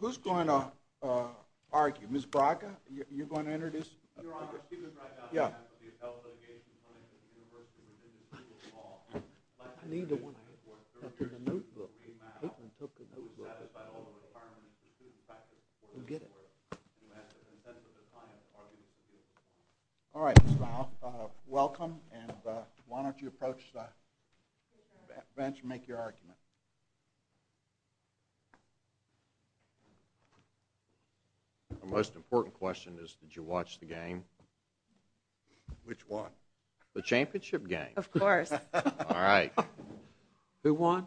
Who's going to argue? Ms. Braga, you're going to introduce? Your Honor, Stephen Braga, I'm the head of the Appellate Litigation Clinic at the University of Minnesota. I need the one after the notebook. All right, Ms. Braga, welcome, and why don't you approach the bench and make your argument. My most important question is did you watch the game? Which one? The championship game. Of course. All right. Who won?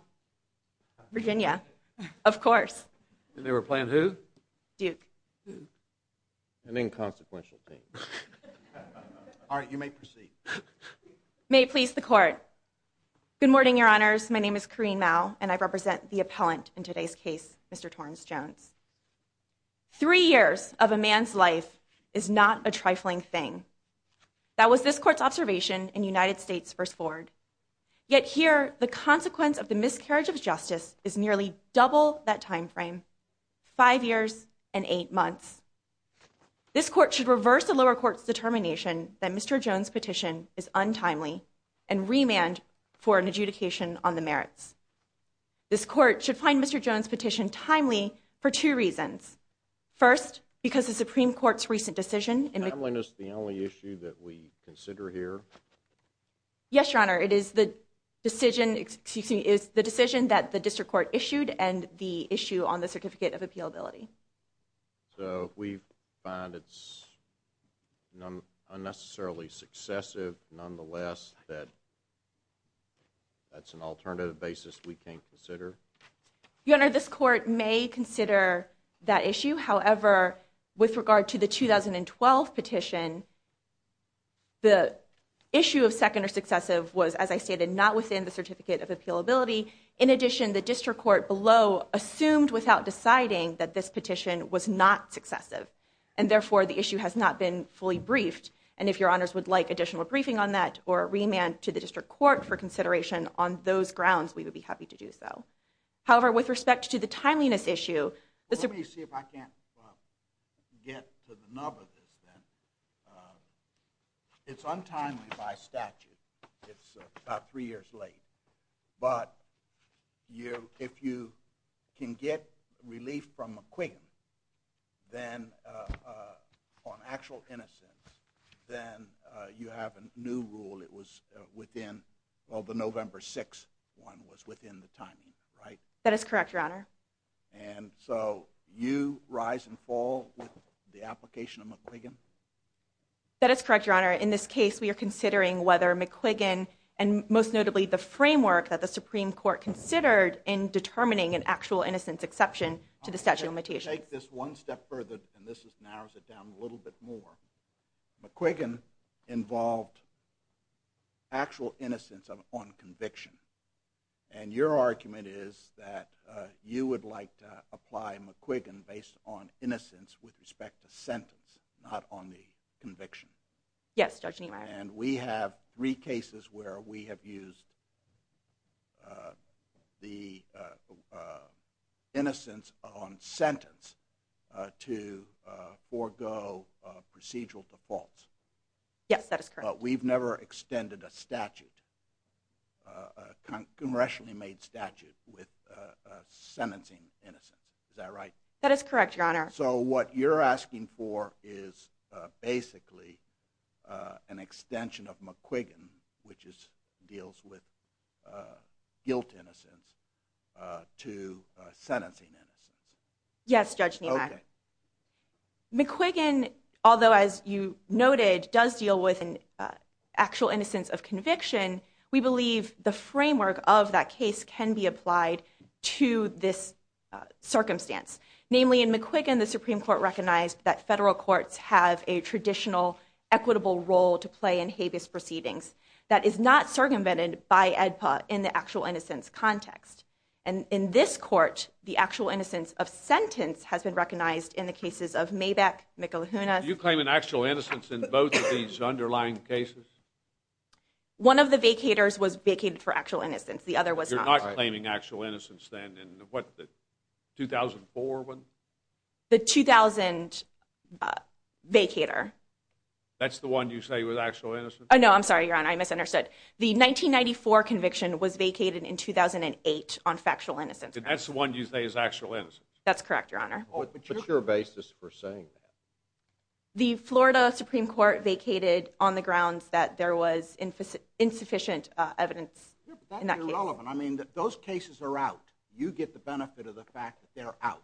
Virginia. Of course. And they were playing who? Duke. An inconsequential team. All right, you may proceed. May it please the Court. Good morning, Your Honors. My name is Corrine Mao, and I represent the appellant in today's case, Mr. Torrance Jones. Three years of a man's life is not a trifling thing. That was this court's observation in United States v. Ford. Yet here, the consequence of the miscarriage of justice is nearly double that time frame, five years and eight months. This court should reverse the lower court's determination that Mr. Jones' petition is untimely and remand for Mr. Jones' petition timely for two reasons. First, because the Supreme Court's recent decision in the Timeliness the only issue that we consider here? Yes, Your Honor. It is the decision that the district court issued and the issue on the certificate of appealability. So we find it's unnecessarily successive, nonetheless, that that's an alternative basis we can consider. Your Honor, this court may consider that issue. However, with regard to the 2012 petition, the issue of second or successive was, as I stated, not within the certificate of appealability. In addition, the district court below assumed without deciding that this petition was not successive. And therefore, the issue has not been fully briefed. And if Your Honors would like additional briefing on that or a remand to the district court for consideration on those grounds, we would be happy to do so. However, with respect to the timeliness issue... Let me see if I can't get to the nub of this then. It's untimely by statute. It's about three years late. But if you can get relief from McQuiggan on actual innocence, then you have a new rule. It was within, well, the November 6th one was within the timing, right? That is correct, Your Honor. And so you rise and fall with the application of McQuiggan? That is correct, Your Honor. In this case, we are considering whether McQuiggan and most notably the framework that the Supreme Court considered in determining an actual innocence exception to the statute of limitations. Let me take this one step further, and this narrows it down a little bit more. McQuiggan involved actual innocence on conviction. And your argument is that you would like to apply McQuiggan based on innocence with respect to sentence, not on the conviction. Yes, Judge Niemeyer. And we have three cases where we have used the innocence on sentence to forego procedural defaults. Yes, that is correct. But we've never extended a statute, a congressionally made statute with sentencing innocence. Is That is correct, Your Honor. So what you're asking for is basically an extension of McQuiggan, which deals with guilt innocence, to sentencing innocence. Yes, Judge Niemeyer. McQuiggan, although as you noted, does deal with an actual innocence of conviction, we believe the framework of that case can be applied to this circumstance. Namely, in McQuiggan, the Supreme Court recognized that federal courts have a traditional, equitable role to play in habeas proceedings. That is not circumvented by AEDPA in the actual innocence context. And in this court, the actual innocence of sentence has been recognized in the cases of Maybeck, Mikulahunas. Do you claim an actual innocence in both of these underlying cases? One of the vacators was vacated for actual innocence. The other was not. You're not claiming actual innocence then in what, the 2004 one? The 2000 vacator. That's the one you say was actual innocence? No, I'm sorry, Your Honor, I misunderstood. The 1994 conviction was vacated in 2008 on factual innocence. That's the one you say is actual innocence? That's correct, Your Honor. What's your basis for saying that? The Florida Supreme Court vacated on the grounds that there was insufficient evidence in that claim that those cases are out. You get the benefit of the fact that they're out.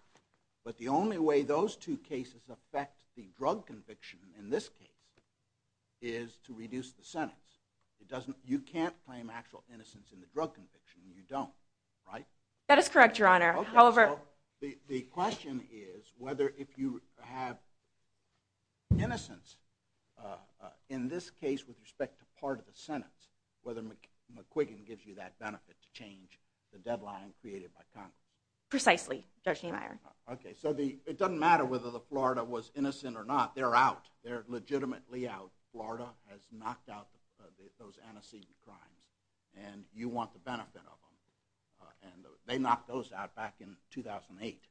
But the only way those two cases affect the drug conviction in this case is to reduce the sentence. You can't claim actual innocence in the drug conviction. You don't, right? That is correct, Your Honor. The question is whether if you have innocence in this case with respect to part of the sentence, whether McQuiggan gives you that benefit to change the deadline created by Congress. Precisely, Judge Niemeyer. Okay, so it doesn't matter whether the Florida was innocent or not. They're out. They're legitimately out. Florida has knocked out those antecedent crimes, and you want the benefit of them. They knocked those out back in 2008.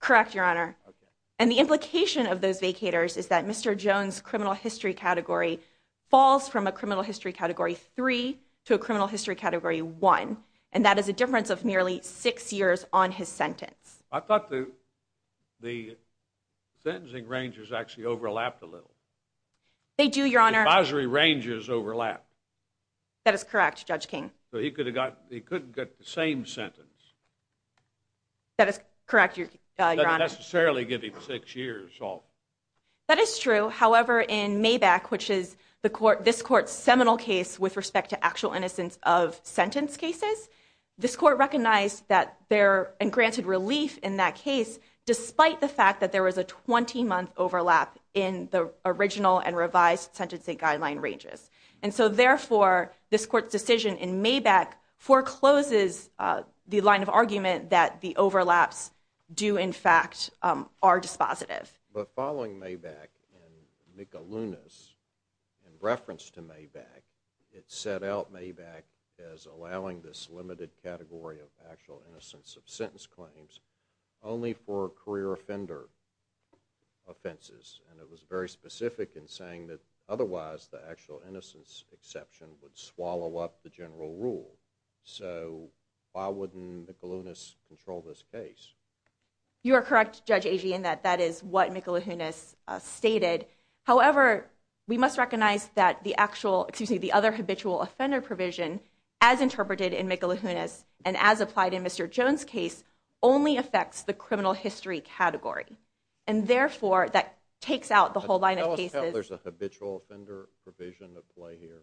Correct, Your Honor. Okay. And the implication of those vacators is that Mr. Jones' criminal history category falls from a criminal history category three to a criminal history category one, and that is a difference of nearly six years on his sentence. I thought the sentencing ranges actually overlapped a little. They do, Your Honor. The advisory ranges overlap. That is correct, Judge King. So he couldn't get the same sentence. That is correct, Your Honor. It doesn't necessarily give him six years off. That is true. However, in Maybach, which is this court's seminal case with respect to actual innocence of sentence cases, this court recognized and granted relief in that case despite the fact that there was a 20-month overlap in the original and revised sentencing guideline ranges. And so therefore, this court's decision in Maybach forecloses the line of argument that the overlaps do, in fact, are dispositive. But following Maybach and McAlunas, in reference to Maybach, it set out Maybach as allowing this limited category of actual innocence of sentence claims only for career offender offenses, and it was very specific in saying that otherwise the actual innocence exception would swallow up the general rule. So why wouldn't McAlunas control this case? You are correct, Judge Agee, in that that is what McAlunas stated. However, we must recognize that the actual, excuse me, the other habitual offender provision as interpreted in McAlunas and as applied in Mr. Jones' case only affects the criminal history category. And therefore, that takes out the whole line of cases. Tell us how there's a habitual offender provision at play here.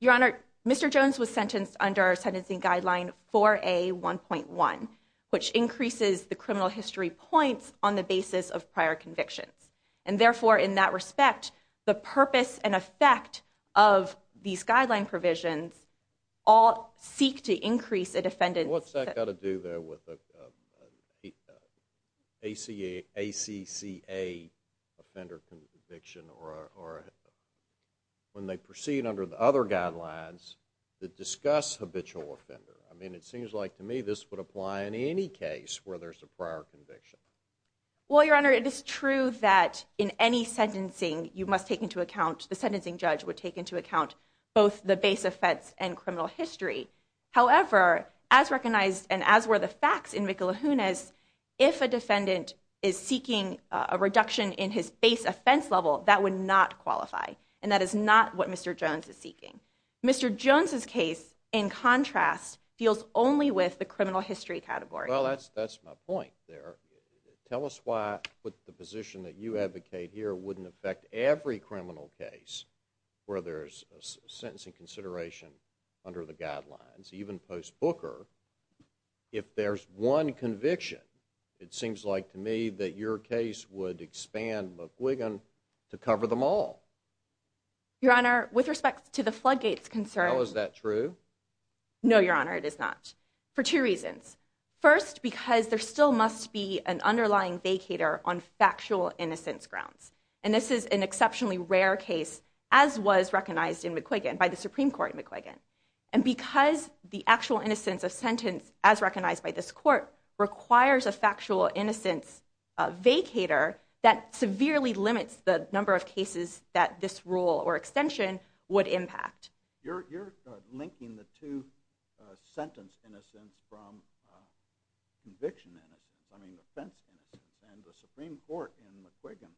Your Honor, Mr. Jones was sentenced under Sentencing Guideline 4A1.1, which increases the criminal history points on the basis of prior convictions. And therefore, in that respect, the purpose and effect of these guideline provisions all seek to increase a defendant's… when they proceed under the other guidelines that discuss habitual offender. I mean, it seems like to me this would apply in any case where there's a prior conviction. Well, Your Honor, it is true that in any sentencing, you must take into account, the sentencing judge would take into account both the base offense and criminal history. However, as recognized and as were the facts in McAlunas, if a defendant is seeking a reduction in his base offense level, that would not qualify. And that is not what Mr. Jones is seeking. Mr. Jones' case, in contrast, deals only with the criminal history category. Well, that's my point there. Tell us why the position that you advocate here wouldn't affect every criminal case where there's a sentencing consideration under the guidelines, even post-Booker. If there's one conviction, it seems like to me that your case would expand McQuiggan to cover them all. Your Honor, with respect to the floodgates concern… How is that true? No, Your Honor, it is not. For two reasons. First, because there still must be an underlying vacater on factual innocence grounds. And this is an exceptionally rare case, as was recognized in McQuiggan, by the Supreme Court in McQuiggan. And because the actual innocence of sentence, as recognized by this court, requires a factual innocence vacater, that severely limits the number of cases that this rule or extension would impact. You're linking the two sentence innocents from conviction innocence, I mean offense innocence. And the Supreme Court in McQuiggan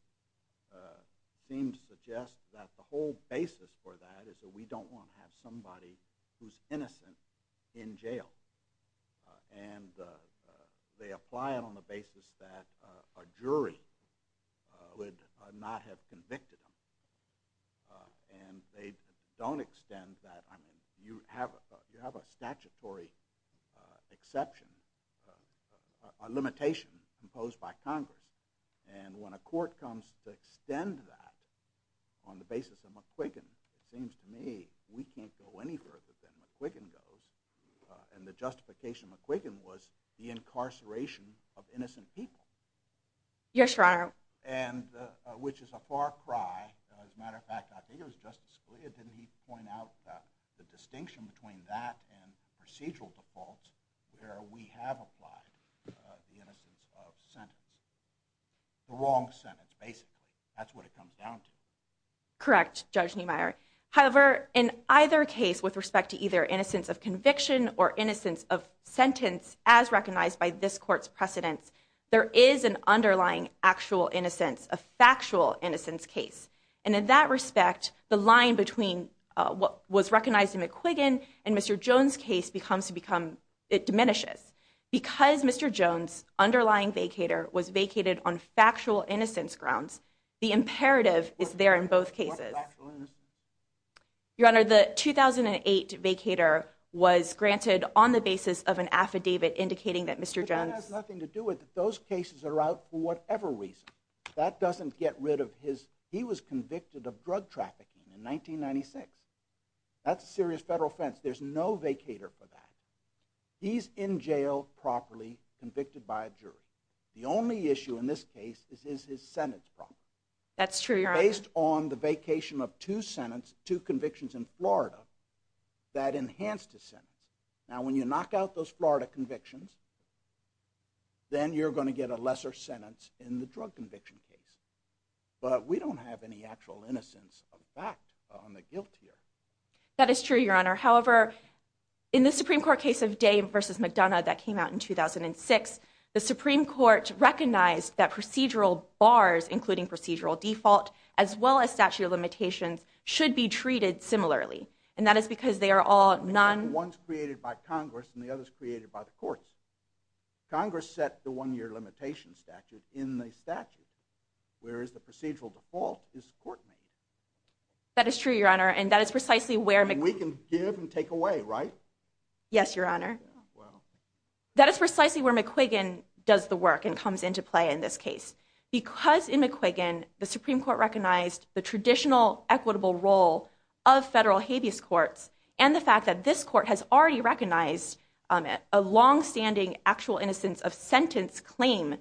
seems to suggest that the whole basis for that is that we don't want to have somebody who's innocent in jail. And they apply it on the basis that a jury would not have convicted them. And they don't extend that, I mean, you have a statutory exception, a limitation imposed by Congress. And when a court comes to extend that on the basis of McQuiggan, it seems to me we can't go any further than McQuiggan goes. And the justification of McQuiggan was the incarceration of innocent people. Yes, Your Honor. And which is a far cry. As a matter of fact, I think it was Justice Scalia, didn't he point out the distinction between that and procedural defaults where we have applied the innocence of sentence. The wrong sentence, basically. That's what it comes down to. Correct, Judge Niemeyer. However, in either case with respect to either innocence of conviction or innocence of sentence as recognized by this court's precedence, there is an underlying actual innocence, a factual innocence case. And in that respect, the line between what was recognized in McQuiggan and Mr. Jones' case becomes to become, it diminishes. Because Mr. Jones' underlying vacator was vacated on factual innocence grounds, the imperative is there in both cases. What factual innocence? Your Honor, the 2008 vacator was granted on the basis of an affidavit indicating that Mr. Jones... But that has nothing to do with it. Those cases are out for whatever reason. That doesn't get rid of his... He was convicted of drug trafficking in 1996. That's a serious federal offense. There's no vacator for that. He's in jail properly convicted by a jury. The only issue in this case is his sentence problem. That's true, Your Honor. Based on the vacation of two convictions in Florida, that enhanced his sentence. Now, when you knock out those Florida convictions, then you're going to get a lesser sentence in the drug conviction case. But we don't have any actual innocence of fact on the guilt here. That is true, Your Honor. However, in the Supreme Court case of Dave versus McDonough that came out in 2006, the Supreme Court recognized that procedural bars, including procedural default, as well as statute of limitations, should be treated similarly. And that is because they are all non... One's created by Congress and the other's created by the courts. Congress set the one-year limitation statute in the statute, whereas the procedural default is court-made. That is true, Your Honor, and that is precisely where... And we can give and take away, right? Yes, Your Honor. That is precisely where McQuiggan does the work and comes into play in this case. Because in McQuiggan, the Supreme Court recognized the traditional equitable role of federal In this court, the actual innocence of sentence claim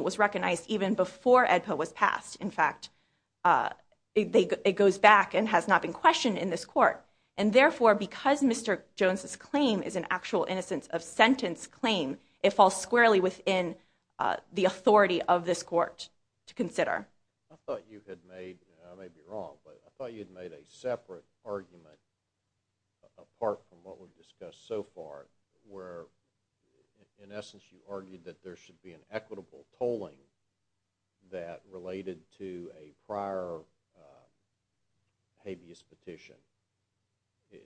was recognized even before EDPA was passed. In fact, it goes back and has not been questioned in this court. And therefore, because Mr. Jones' claim is an actual innocence of sentence claim, it falls squarely within the authority of this court. I thought you had made... I may be wrong, but I thought you had made a separate argument apart from what we've discussed so far, where, in essence, you argued that there should be an equitable tolling that related to a prior habeas petition.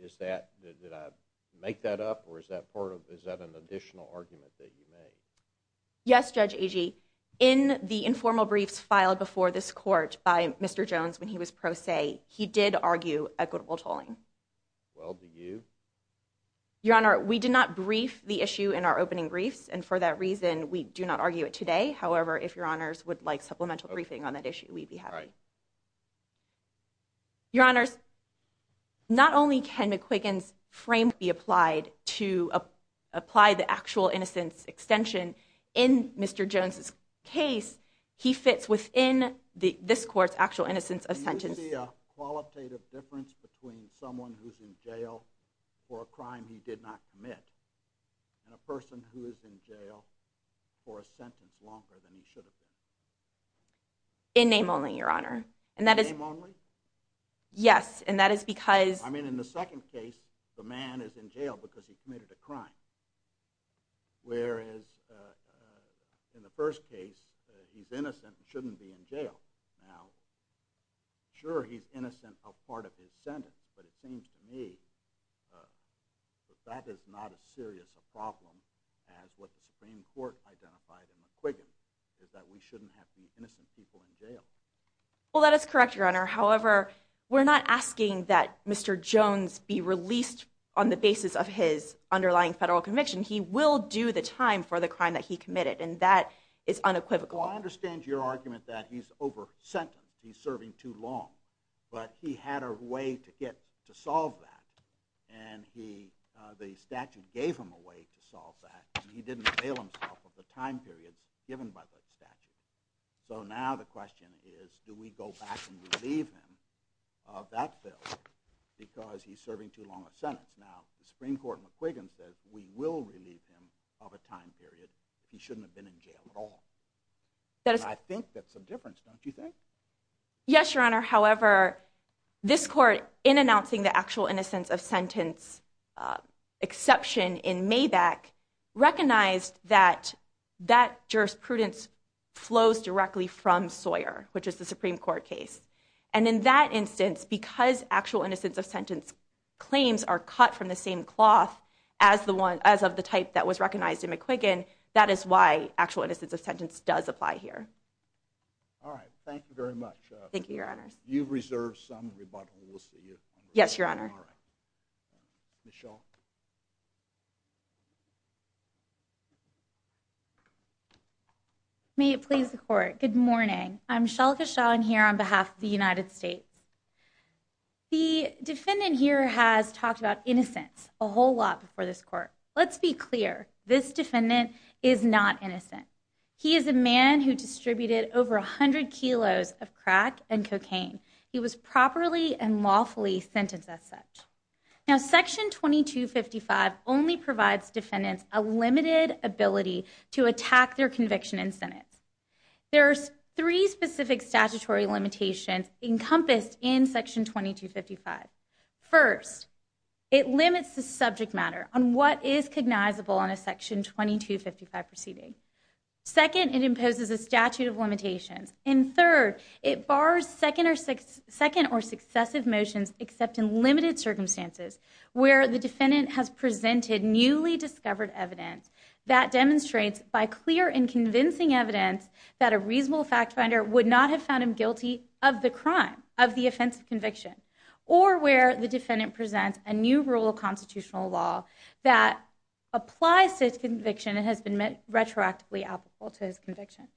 Is that... Did I make that up, or is that part of... Is that an additional argument that you made? Yes, Judge Agee. In the informal briefs filed before this court by Mr. Jones when he was pro se, he did argue equitable tolling. Well, do you? Your Honor, we did not brief the issue in our opening briefs. And for that reason, we do not argue it today. However, if Your Honors would like supplemental briefing on that issue, we'd be happy. Your Honors, not only can McQuiggan's framework be applied to apply the actual innocence extension in Mr. Jones' case, he fits within this court's actual innocence of sentence. Is there a qualitative difference between someone who's in jail for a crime he did not commit and a person who is in jail for a sentence longer than he should have been? In name only, Your Honor. In name only? Yes, and that is because... I mean, in the second case, the man is in jail because he committed a crime, whereas in the first case, he's innocent and shouldn't be in jail. Now, sure, he's innocent of part of his sentence, but it seems to me that that is not as serious a problem as what the Supreme Court identified in McQuiggan, is that we shouldn't have these innocent people in jail. Well, that is correct, Your Honor. However, we're not asking that Mr. Jones be released on the basis of his underlying federal conviction. He will do the time for the crime that he committed, and that is unequivocal. Well, I understand your argument that he's over sentence, he's serving too long, but he had a way to solve that, and the statute gave him a way to solve that, and he didn't avail himself of the time periods given by the statute. So now the question is, do we go back and relieve him of that bill because he's serving too long of sentence? Now, the Supreme Court in McQuiggan says we will relieve him of a time period if he shouldn't have been in jail at all. I think that's a difference, don't you think? Yes, Your Honor. However, this court, in announcing the actual innocence of sentence exception in Maybach, recognized that that jurisprudence flows directly from Sawyer, which is the Supreme Court case. And in that instance, because actual innocence of sentence claims are cut from the same cloth as of the type that was recognized in McQuiggan, that is why actual innocence of sentence does apply here. All right. Thank you very much. Thank you, Your Honor. You've reserved some rebuttal. We'll see you. Yes, Your Honor. All right. Ms. Shaw. May it please the Court. Good morning. I'm Shalika Shaw here on behalf of the United States. The defendant here has talked about innocence a whole lot before this court. Let's be clear. This defendant is not innocent. He is a man who distributed over 100 kilos of crack and cocaine. He was properly and lawfully sentenced as such. Now, Section 2255 only provides defendants a limited ability to attack their conviction in sentence. There are three specific statutory limitations encompassed in Section 2255. First, it limits the subject matter on what is cognizable on a Section 2255 proceeding. And third, it bars second or successive motions except in limited circumstances where the defendant has presented newly discovered evidence that demonstrates by clear and convincing evidence that a reasonable fact finder would not have found him guilty of the crime, of the offensive conviction, or where the defendant presents a new rule of constitutional law that applies to his conviction and has been retroactively applicable to his conviction.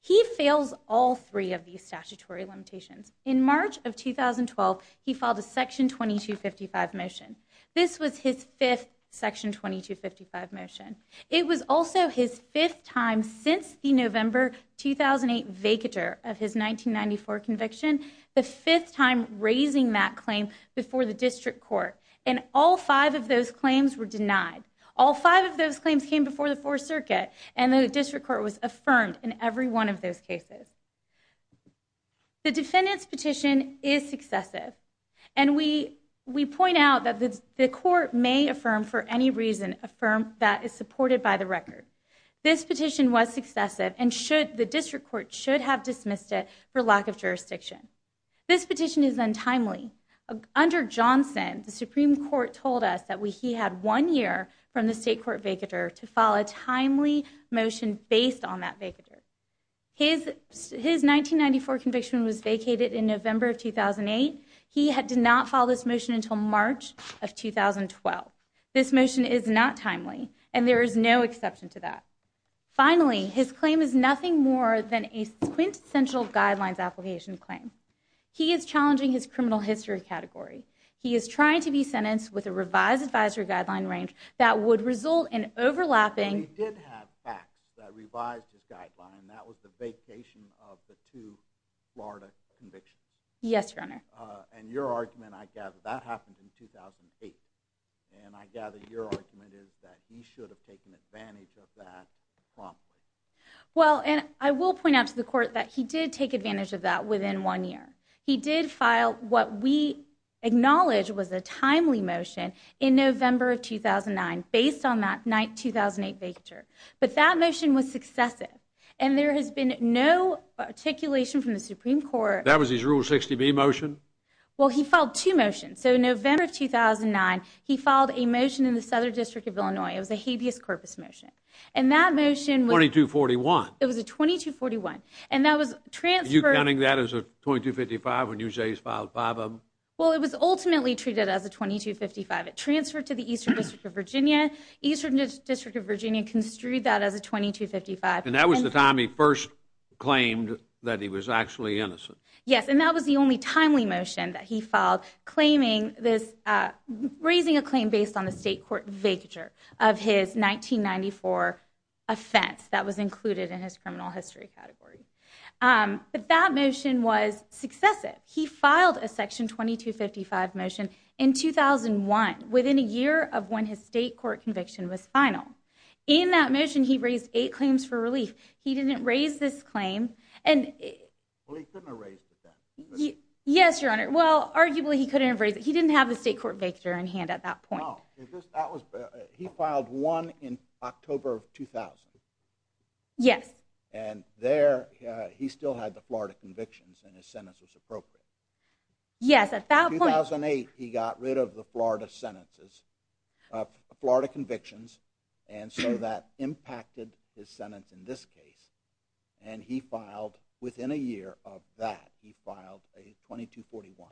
He fails all three of these statutory limitations. In March of 2012, he filed a Section 2255 motion. This was his fifth Section 2255 motion. It was also his fifth time since the November 2008 vacatur of his 1994 conviction, the fifth time raising that claim before the district court. And all five of those claims were denied. All five of those claims came before the Fourth Circuit, and the district court was affirmed in every one of those cases. The defendant's petition is successive. And we point out that the court may affirm for any reason a firm that is supported by the record. This petition was successive, and the district court should have dismissed it for lack of jurisdiction. This petition is untimely. Under Johnson, the Supreme Court told us that he had one year from the state court vacatur to file a timely motion based on that vacatur. His 1994 conviction was vacated in November of 2008. He did not file this motion until March of 2012. This motion is not timely, and there is no exception to that. Finally, his claim is nothing more than a quintessential guidelines application claim. He is challenging his criminal history category. He is trying to be sentenced with a revised advisory guideline range that would result in overlapping... He did have facts that revised his guideline. That was the vacation of the two Florida convictions. Yes, Your Honor. And your argument, I gather, that happened in 2008. And I gather your argument is that he should have taken advantage of that promptly. Well, and I will point out to the court that he did take advantage of that within one year. He did file what we acknowledge was a timely motion in November of 2009 based on that night 2008 vacatur. But that motion was successive. And there has been no articulation from the Supreme Court... That was his Rule 60B motion? Well, he filed two motions. So, November of 2009, he filed a motion in the Southern District of Illinois. It was a habeas corpus motion. And that motion was... 2241. It was a 2241. And that was transferred... Are you counting that as a 2255 when you say he's filed five of them? Well, it was ultimately treated as a 2255. It transferred to the Eastern District of Virginia. Eastern District of Virginia construed that as a 2255. And that was the time he first claimed that he was actually innocent. Yes, and that was the only timely motion that he filed claiming this... offense that was included in his criminal history category. But that motion was successive. He filed a Section 2255 motion in 2001, within a year of when his state court conviction was final. In that motion, he raised eight claims for relief. He didn't raise this claim. Well, he couldn't have raised it then. Yes, Your Honor. Well, arguably, he couldn't have raised it. He didn't have the state court vacatur in hand at that point. He filed one in October of 2000. Yes. And there, he still had the Florida convictions, and his sentence was appropriate. Yes, at that point... In 2008, he got rid of the Florida convictions, and so that impacted his sentence in this case. And he filed, within a year of that, he filed a 2241.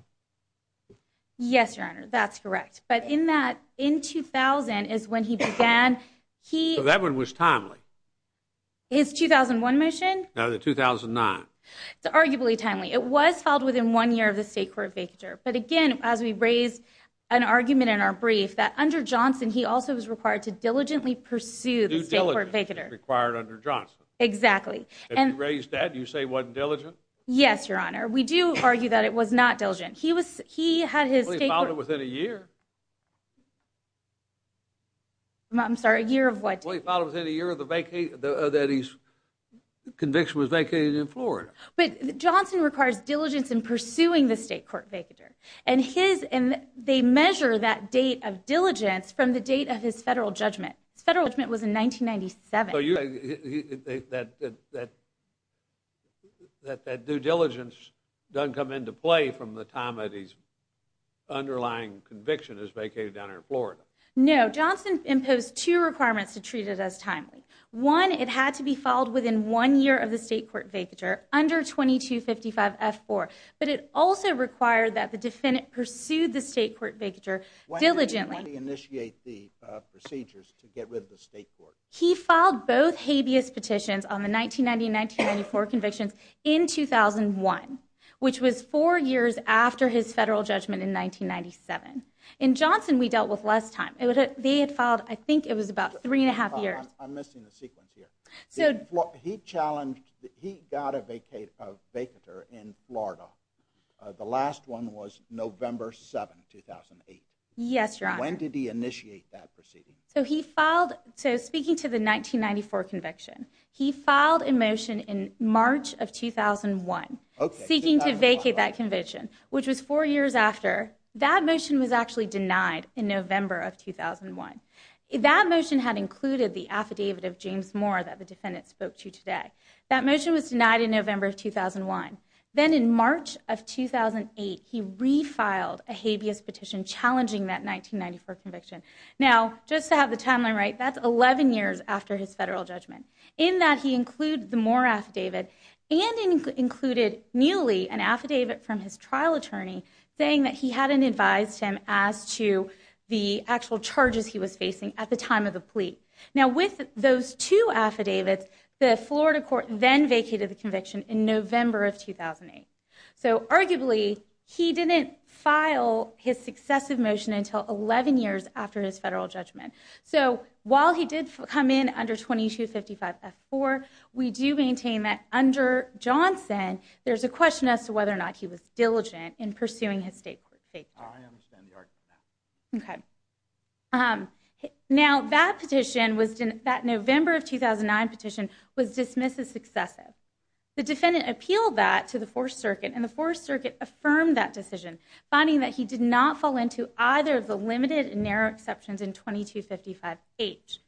Yes, Your Honor, that's correct. But in that, in 2000 is when he began, he... So that one was timely. His 2001 motion? No, the 2009. It's arguably timely. It was filed within one year of the state court vacatur. But again, as we raised an argument in our brief, that under Johnson, he also was required to diligently pursue the state court vacatur. Due diligence is required under Johnson. Exactly. If he raised that, you say it wasn't diligent? Yes, Your Honor. We do argue that it was not diligent. Well, he filed it within a year. I'm sorry, a year of what? Well, he filed it within a year that his conviction was vacated in Florida. But Johnson requires diligence in pursuing the state court vacatur. And they measure that date of diligence from the date of his federal judgment. His federal judgment was in 1997. So you're saying that due diligence doesn't come into play from the time that his underlying conviction is vacated down here in Florida? No. Johnson imposed two requirements to treat it as timely. One, it had to be filed within one year of the state court vacatur, under 2255F4. But it also required that the defendant pursue the state court vacatur diligently. Why did he initiate the procedures to get rid of the state court? He filed both habeas petitions on the 1990 and 1994 convictions in 2001, which was four years after his federal judgment in 1997. In Johnson, we dealt with less time. They had filed, I think it was about three and a half years. I'm missing the sequence here. He got a vacatur in Florida. The last one was November 7, 2008. Yes, Your Honor. When did he initiate that proceeding? Speaking to the 1994 conviction, he filed a motion in March of 2001, seeking to vacate that conviction, which was four years after. That motion was actually denied in November of 2001. That motion had included the affidavit of James Moore that the defendant spoke to today. That motion was denied in November of 2001. Then in March of 2008, he refiled a habeas petition challenging that 1994 conviction. Now, just to have the timeline right, that's 11 years after his federal judgment. In that, he included the Moore affidavit and included nearly an affidavit from his trial attorney saying that he hadn't advised him as to the actual charges he was facing at the time of the plea. Now, with those two affidavits, the Florida court then vacated the conviction in November of 2008. So, arguably, he didn't file his successive motion until 11 years after his federal judgment. So, while he did come in under 2255F4, we do maintain that under Johnson, there's a question as to whether or not he was diligent in pursuing his state court safety. I understand the argument now. Okay. Now, that petition, that November of 2009 petition, was dismissed as successive. The defendant appealed that to the Fourth Circuit, and the Fourth Circuit affirmed that decision, finding that he did not fall into either of the limited and narrow exceptions in 2255H.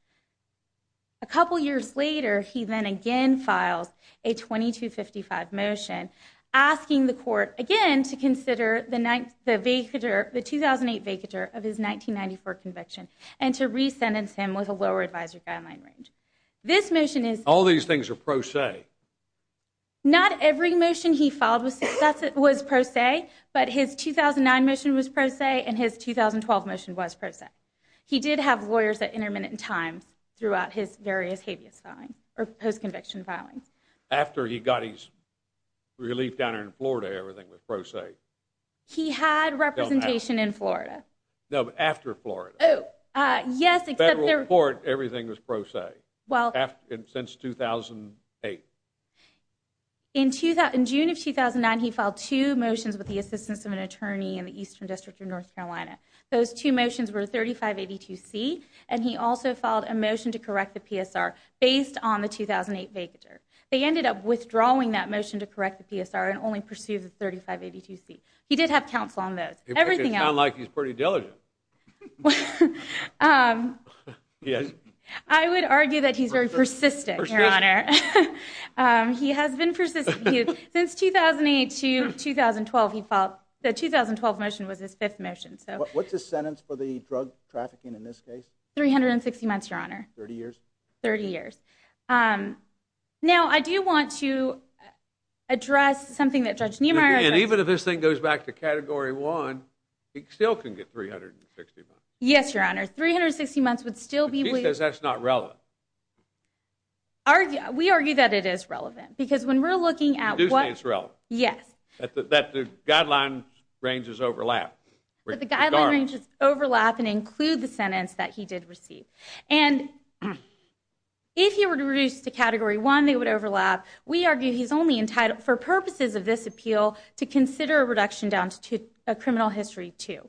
A couple years later, he then again files a 2255 motion asking the court again to consider the 2008 vacatur of his 1994 conviction and to resentence him with a lower advisory guideline range. All these things are pro se? Not every motion he filed was pro se, but his 2009 motion was pro se, and his 2012 motion was pro se. He did have lawyers at intermittent times throughout his various habeas filing, or post-conviction filings. After he got his relief down in Florida, everything was pro se? He had representation in Florida. No, but after Florida. Federal court, everything was pro se. Since 2008. In June of 2009, he filed two motions with the assistance of an attorney in the Eastern District of North Carolina. Those two motions were 3582C, and he also filed a motion to correct the PSR based on the 2008 vacatur. They ended up withdrawing that motion to correct the PSR and only pursued the 3582C. He did have counsel on those. It sounds like he's pretty diligent. I would argue that he's very persistent, Your Honor. He has been persistent. Since 2008 to 2012, the 2012 motion was his fifth motion. What's his sentence for the drug trafficking in this case? 360 months, Your Honor. 30 years? 30 years. Now, I do want to address something that Judge Niemeyer said. Even if this thing goes back to Category 1, he still can get 360 months. Yes, Your Honor. 360 months would still be waived. But he says that's not relevant. We argue that it is relevant, because when we're looking at what... You do say it's relevant. Yes. That the guideline ranges overlap. But the guideline ranges overlap and include the sentence that he did receive. And if he were to reduce to Category 1, they would overlap. We argue he's only entitled, for purposes of this appeal, to consider a reduction down to a criminal history, too.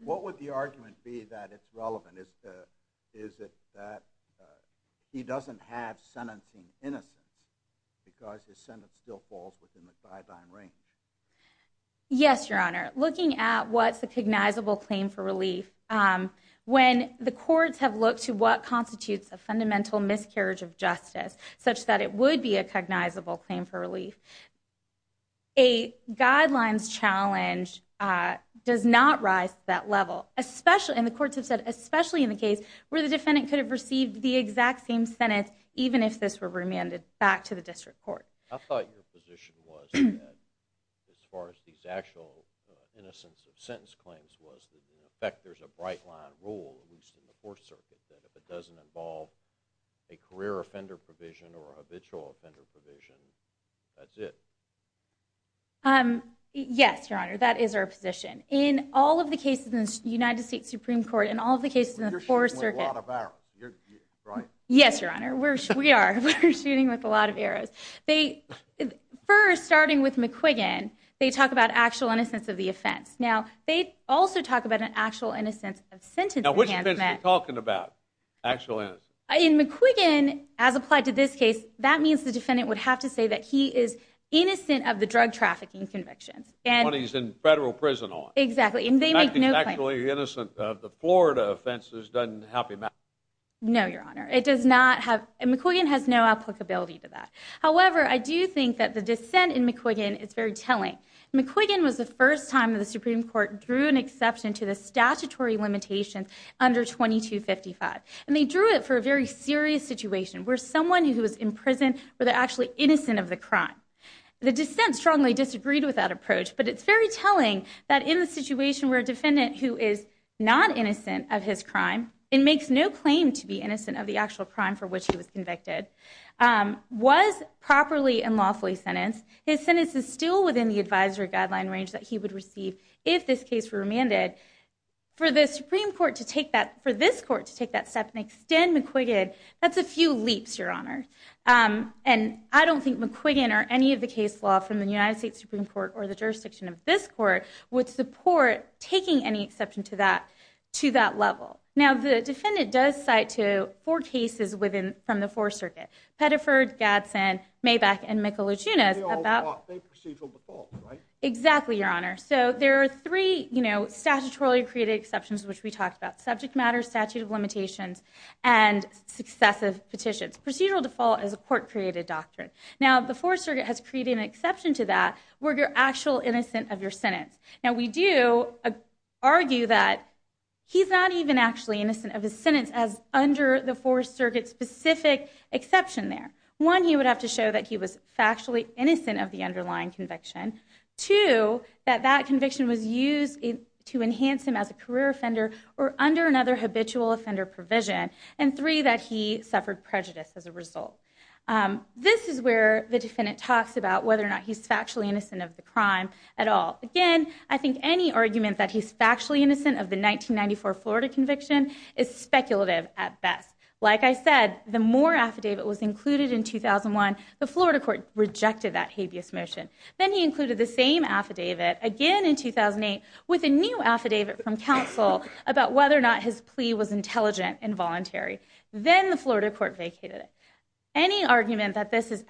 What would the argument be that it's relevant? Is it that he doesn't have sentencing innocence, because his sentence still falls within the guideline range? Yes, Your Honor. Looking at what's a cognizable claim for relief, when the courts have looked to what constitutes a fundamental miscarriage of justice, such that it would be a cognizable claim for relief, a guidelines challenge does not rise to that level. And the courts have said, especially in the case where the defendant could have received the exact same sentence, even if this were remanded back to the district court. I thought your position was that, as far as these actual innocence of sentence claims was, in effect, there's a bright-line rule, at least in the Fourth Circuit, that if it doesn't involve a career offender provision or a habitual offender provision, that's it. Yes, Your Honor. That is our position. In all of the cases in the United States Supreme Court, in all of the cases in the Fourth Circuit— You're shooting with a lot of arrows. Yes, Your Honor. We are. We're shooting with a lot of arrows. First, starting with McQuiggan, they talk about actual innocence of the offense. Now, they also talk about an actual innocence of sentence. Now, which offense are you talking about, actual innocence? In McQuiggan, as applied to this case, that means the defendant would have to say that he is innocent of the drug trafficking convictions. The one he's in federal prison on. Exactly. And they make no claims. The fact that he's actually innocent of the Florida offenses doesn't help him out. No, Your Honor. It does not have—McQuiggan has no applicability to that. However, I do think that the dissent in McQuiggan is very telling. McQuiggan was the first time that the Supreme Court drew an exception to the statutory limitations under 2255. And they drew it for a very serious situation where someone who was in prison were actually innocent of the crime. The dissent strongly disagreed with that approach, but it's very telling that in the situation where a defendant who is not innocent of his crime— and makes no claim to be innocent of the actual crime for which he was convicted— was properly and lawfully sentenced, his sentence is still within the advisory guideline range that he would receive if this case were remanded. For the Supreme Court to take that—for this court to take that step and extend McQuiggan, that's a few leaps, Your Honor. And I don't think McQuiggan or any of the case law from the United States Supreme Court or the jurisdiction of this court would support taking any exception to that level. Now, the defendant does cite to four cases from the Fourth Circuit. Pettiford, Gadsden, Maback, and Michelucci. They all brought the procedural default, right? Exactly, Your Honor. So, there are three, you know, statutorily created exceptions which we talked about. Subject matter, statute of limitations, and successive petitions. Procedural default is a court-created doctrine. Now, the Fourth Circuit has created an exception to that where you're actually innocent of your sentence. Now, we do argue that he's not even actually innocent of his sentence as under the Fourth Circuit specific exception there. One, you would have to show that he was factually innocent of the underlying conviction. Two, that that conviction was used to enhance him as a career offender or under another habitual offender provision. And three, that he suffered prejudice as a result. This is where the defendant talks about whether or not he's factually innocent of the crime at all. Again, I think any argument that he's factually innocent of the 1994 Florida conviction is speculative at best. Like I said, the more affidavit was included in 2001, the Florida court rejected that habeas motion. Then he included the same affidavit again in 2008 with a new affidavit from counsel about whether or not his plea was intelligent and voluntary. Then the Florida court vacated it. Any argument that this was a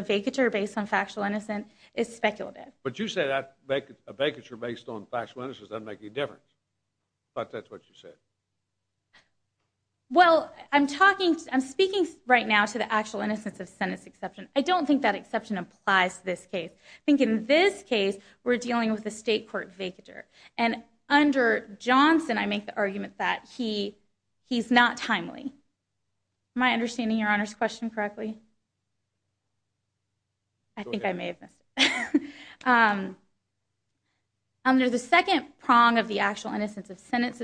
vacatur based on factual innocence is speculative. But you say that a vacatur based on factual innocence doesn't make any difference. But that's what you said. Well, I'm speaking right now to the actual innocence of sentence exception. I don't think that exception applies to this case. I think in this case, we're dealing with a state court vacatur. And under Johnson, I make the argument that he's not timely. Am I understanding your Honor's question correctly? I think I may have missed it. Under the second prong of the actual innocence of sentence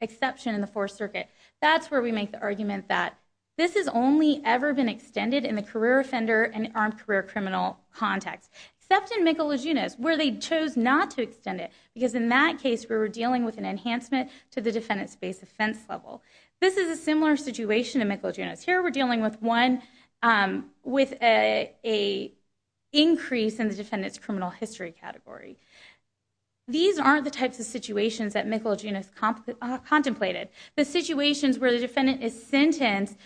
exception in the Fourth Circuit, that's where we make the argument that this has only ever been extended in the career offender and the armed career criminal context. Except in Michelegunas, where they chose not to extend it. Because in that case, we were dealing with an enhancement to the defendant's base offense level. This is a similar situation in Michelegunas. Here we're dealing with one with an increase in the defendant's criminal history category. These aren't the types of situations that Michelegunas contemplated. The situations where the defendant is sentenced,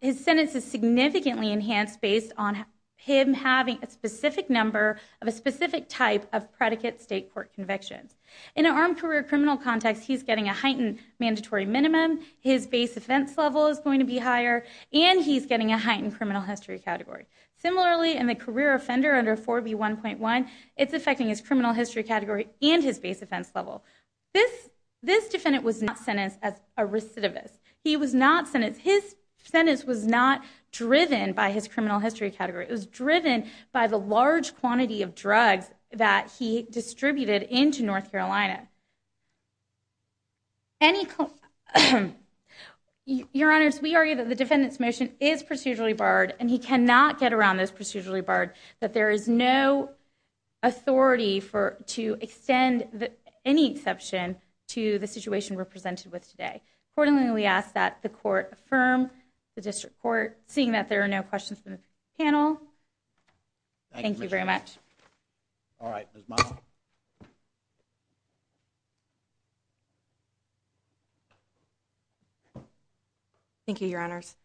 his sentence is significantly enhanced based on him having a specific number of a specific type of predicate state court convictions. In an armed career criminal context, he's getting a heightened mandatory minimum. His base offense level is going to be higher. And he's getting a heightened criminal history category. Similarly, in the career offender under 4B1.1, it's affecting his criminal history category and his base offense level. This defendant was not sentenced as a recidivist. He was not sentenced. His sentence was not driven by his criminal history category. It was driven by the large quantity of drugs that he distributed into North Carolina. Your Honors, we argue that the defendant's motion is procedurally barred. And he cannot get around this procedurally barred. That there is no authority to extend any exception to the situation we're presented with today. Accordingly, we ask that the court affirm the district court. Seeing that there are no questions from the panel, thank you very much. All right, Ms. Miles. Thank you, Your Honors.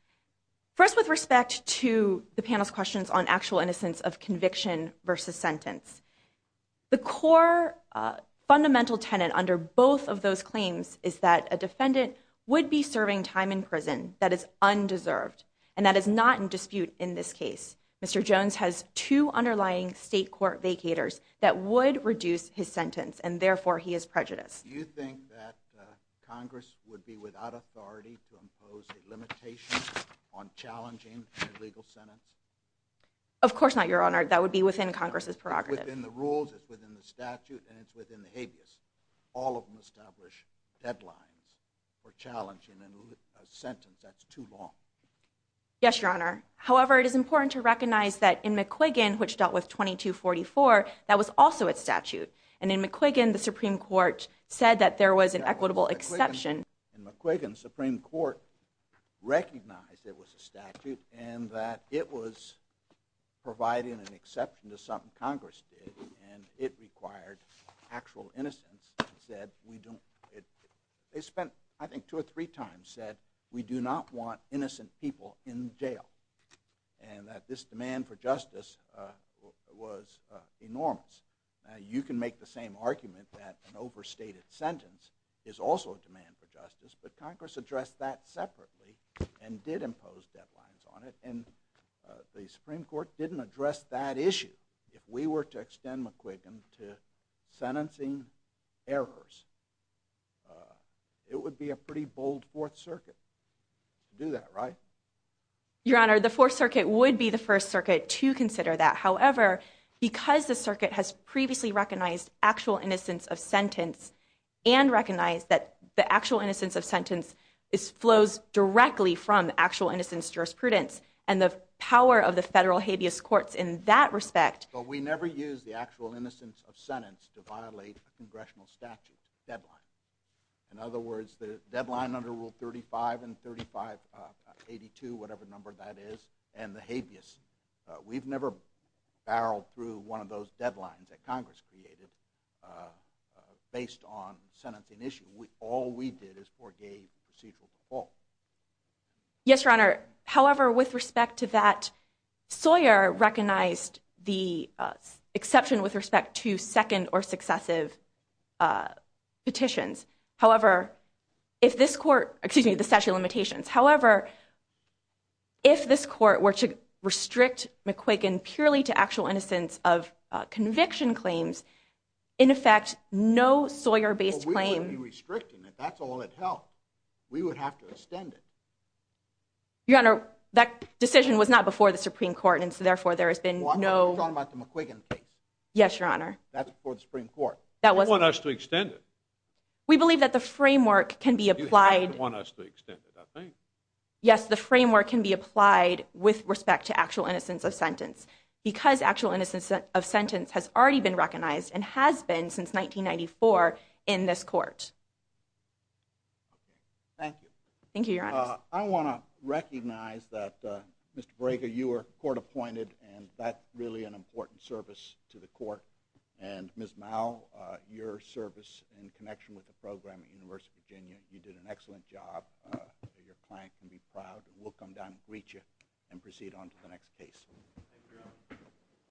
First, with respect to the panel's questions on actual innocence of conviction versus sentence. The core fundamental tenet under both of those claims is that a defendant would be serving time in prison that is undeserved. And that is not in dispute in this case. Mr. Jones has two underlying state court vacators that would reduce his sentence. And therefore, he is prejudiced. Do you think that Congress would be without authority to impose a limitation on challenging an illegal sentence? Of course not, Your Honor. That would be within Congress's prerogative. It's within the rules. It's within the statute. And it's within the habeas. All of them establish deadlines for challenging a sentence that's too long. Yes, Your Honor. However, it is important to recognize that in McQuiggan, which dealt with 2244, that was also a statute. And in McQuiggan, the Supreme Court said that there was an equitable exception. In McQuiggan, the Supreme Court recognized it was a statute and that it was providing an exception to something Congress did. And it required actual innocence. They spent, I think, two or three times said, we do not want innocent people in jail. And that this demand for justice was enormous. You can make the same argument that an overstated sentence is also a demand for justice. But Congress addressed that separately and did impose deadlines on it. And the Supreme Court didn't address that issue. If we were to extend McQuiggan to sentencing errors, it would be a pretty bold Fourth Circuit to do that, right? Your Honor, the Fourth Circuit would be the first circuit to consider that. However, because the circuit has previously recognized actual innocence of sentence and recognized that the actual innocence of sentence flows directly from actual innocence jurisprudence and the power of the federal habeas courts in that respect. But we never use the actual innocence of sentence to violate a congressional statute deadline. In other words, the deadline under Rule 35 and 3582, whatever number that is, and the habeas, we've never barreled through one of those deadlines that Congress created based on sentencing issue. All we did is forgave procedural default. Yes, Your Honor. However, with respect to that, Sawyer recognized the exception with respect to second or successive petitions. However, if this court, excuse me, the statute of limitations. However, if this court were to restrict McQuiggan purely to actual innocence of conviction claims, in effect, no Sawyer-based claim... We wouldn't be restricting it. That's all it held. We would have to extend it. Your Honor, that decision was not before the Supreme Court, and so therefore there has been no... You're talking about the McQuiggan case. Yes, Your Honor. That's before the Supreme Court. They want us to extend it. We believe that the framework can be applied... Yes, the framework can be applied with respect to actual innocence of sentence because actual innocence of sentence has already been recognized and has been since 1994 in this court. Thank you. Thank you, Your Honor. I want to recognize that, Mr. Braga, you were court appointed, and that's really an important service to the court. And Ms. Mao, your service in connection with the program at the University of Virginia, you did an excellent job. Your client can be proud. We'll come down and greet you and proceed on to the next case. Thank you, Your Honor.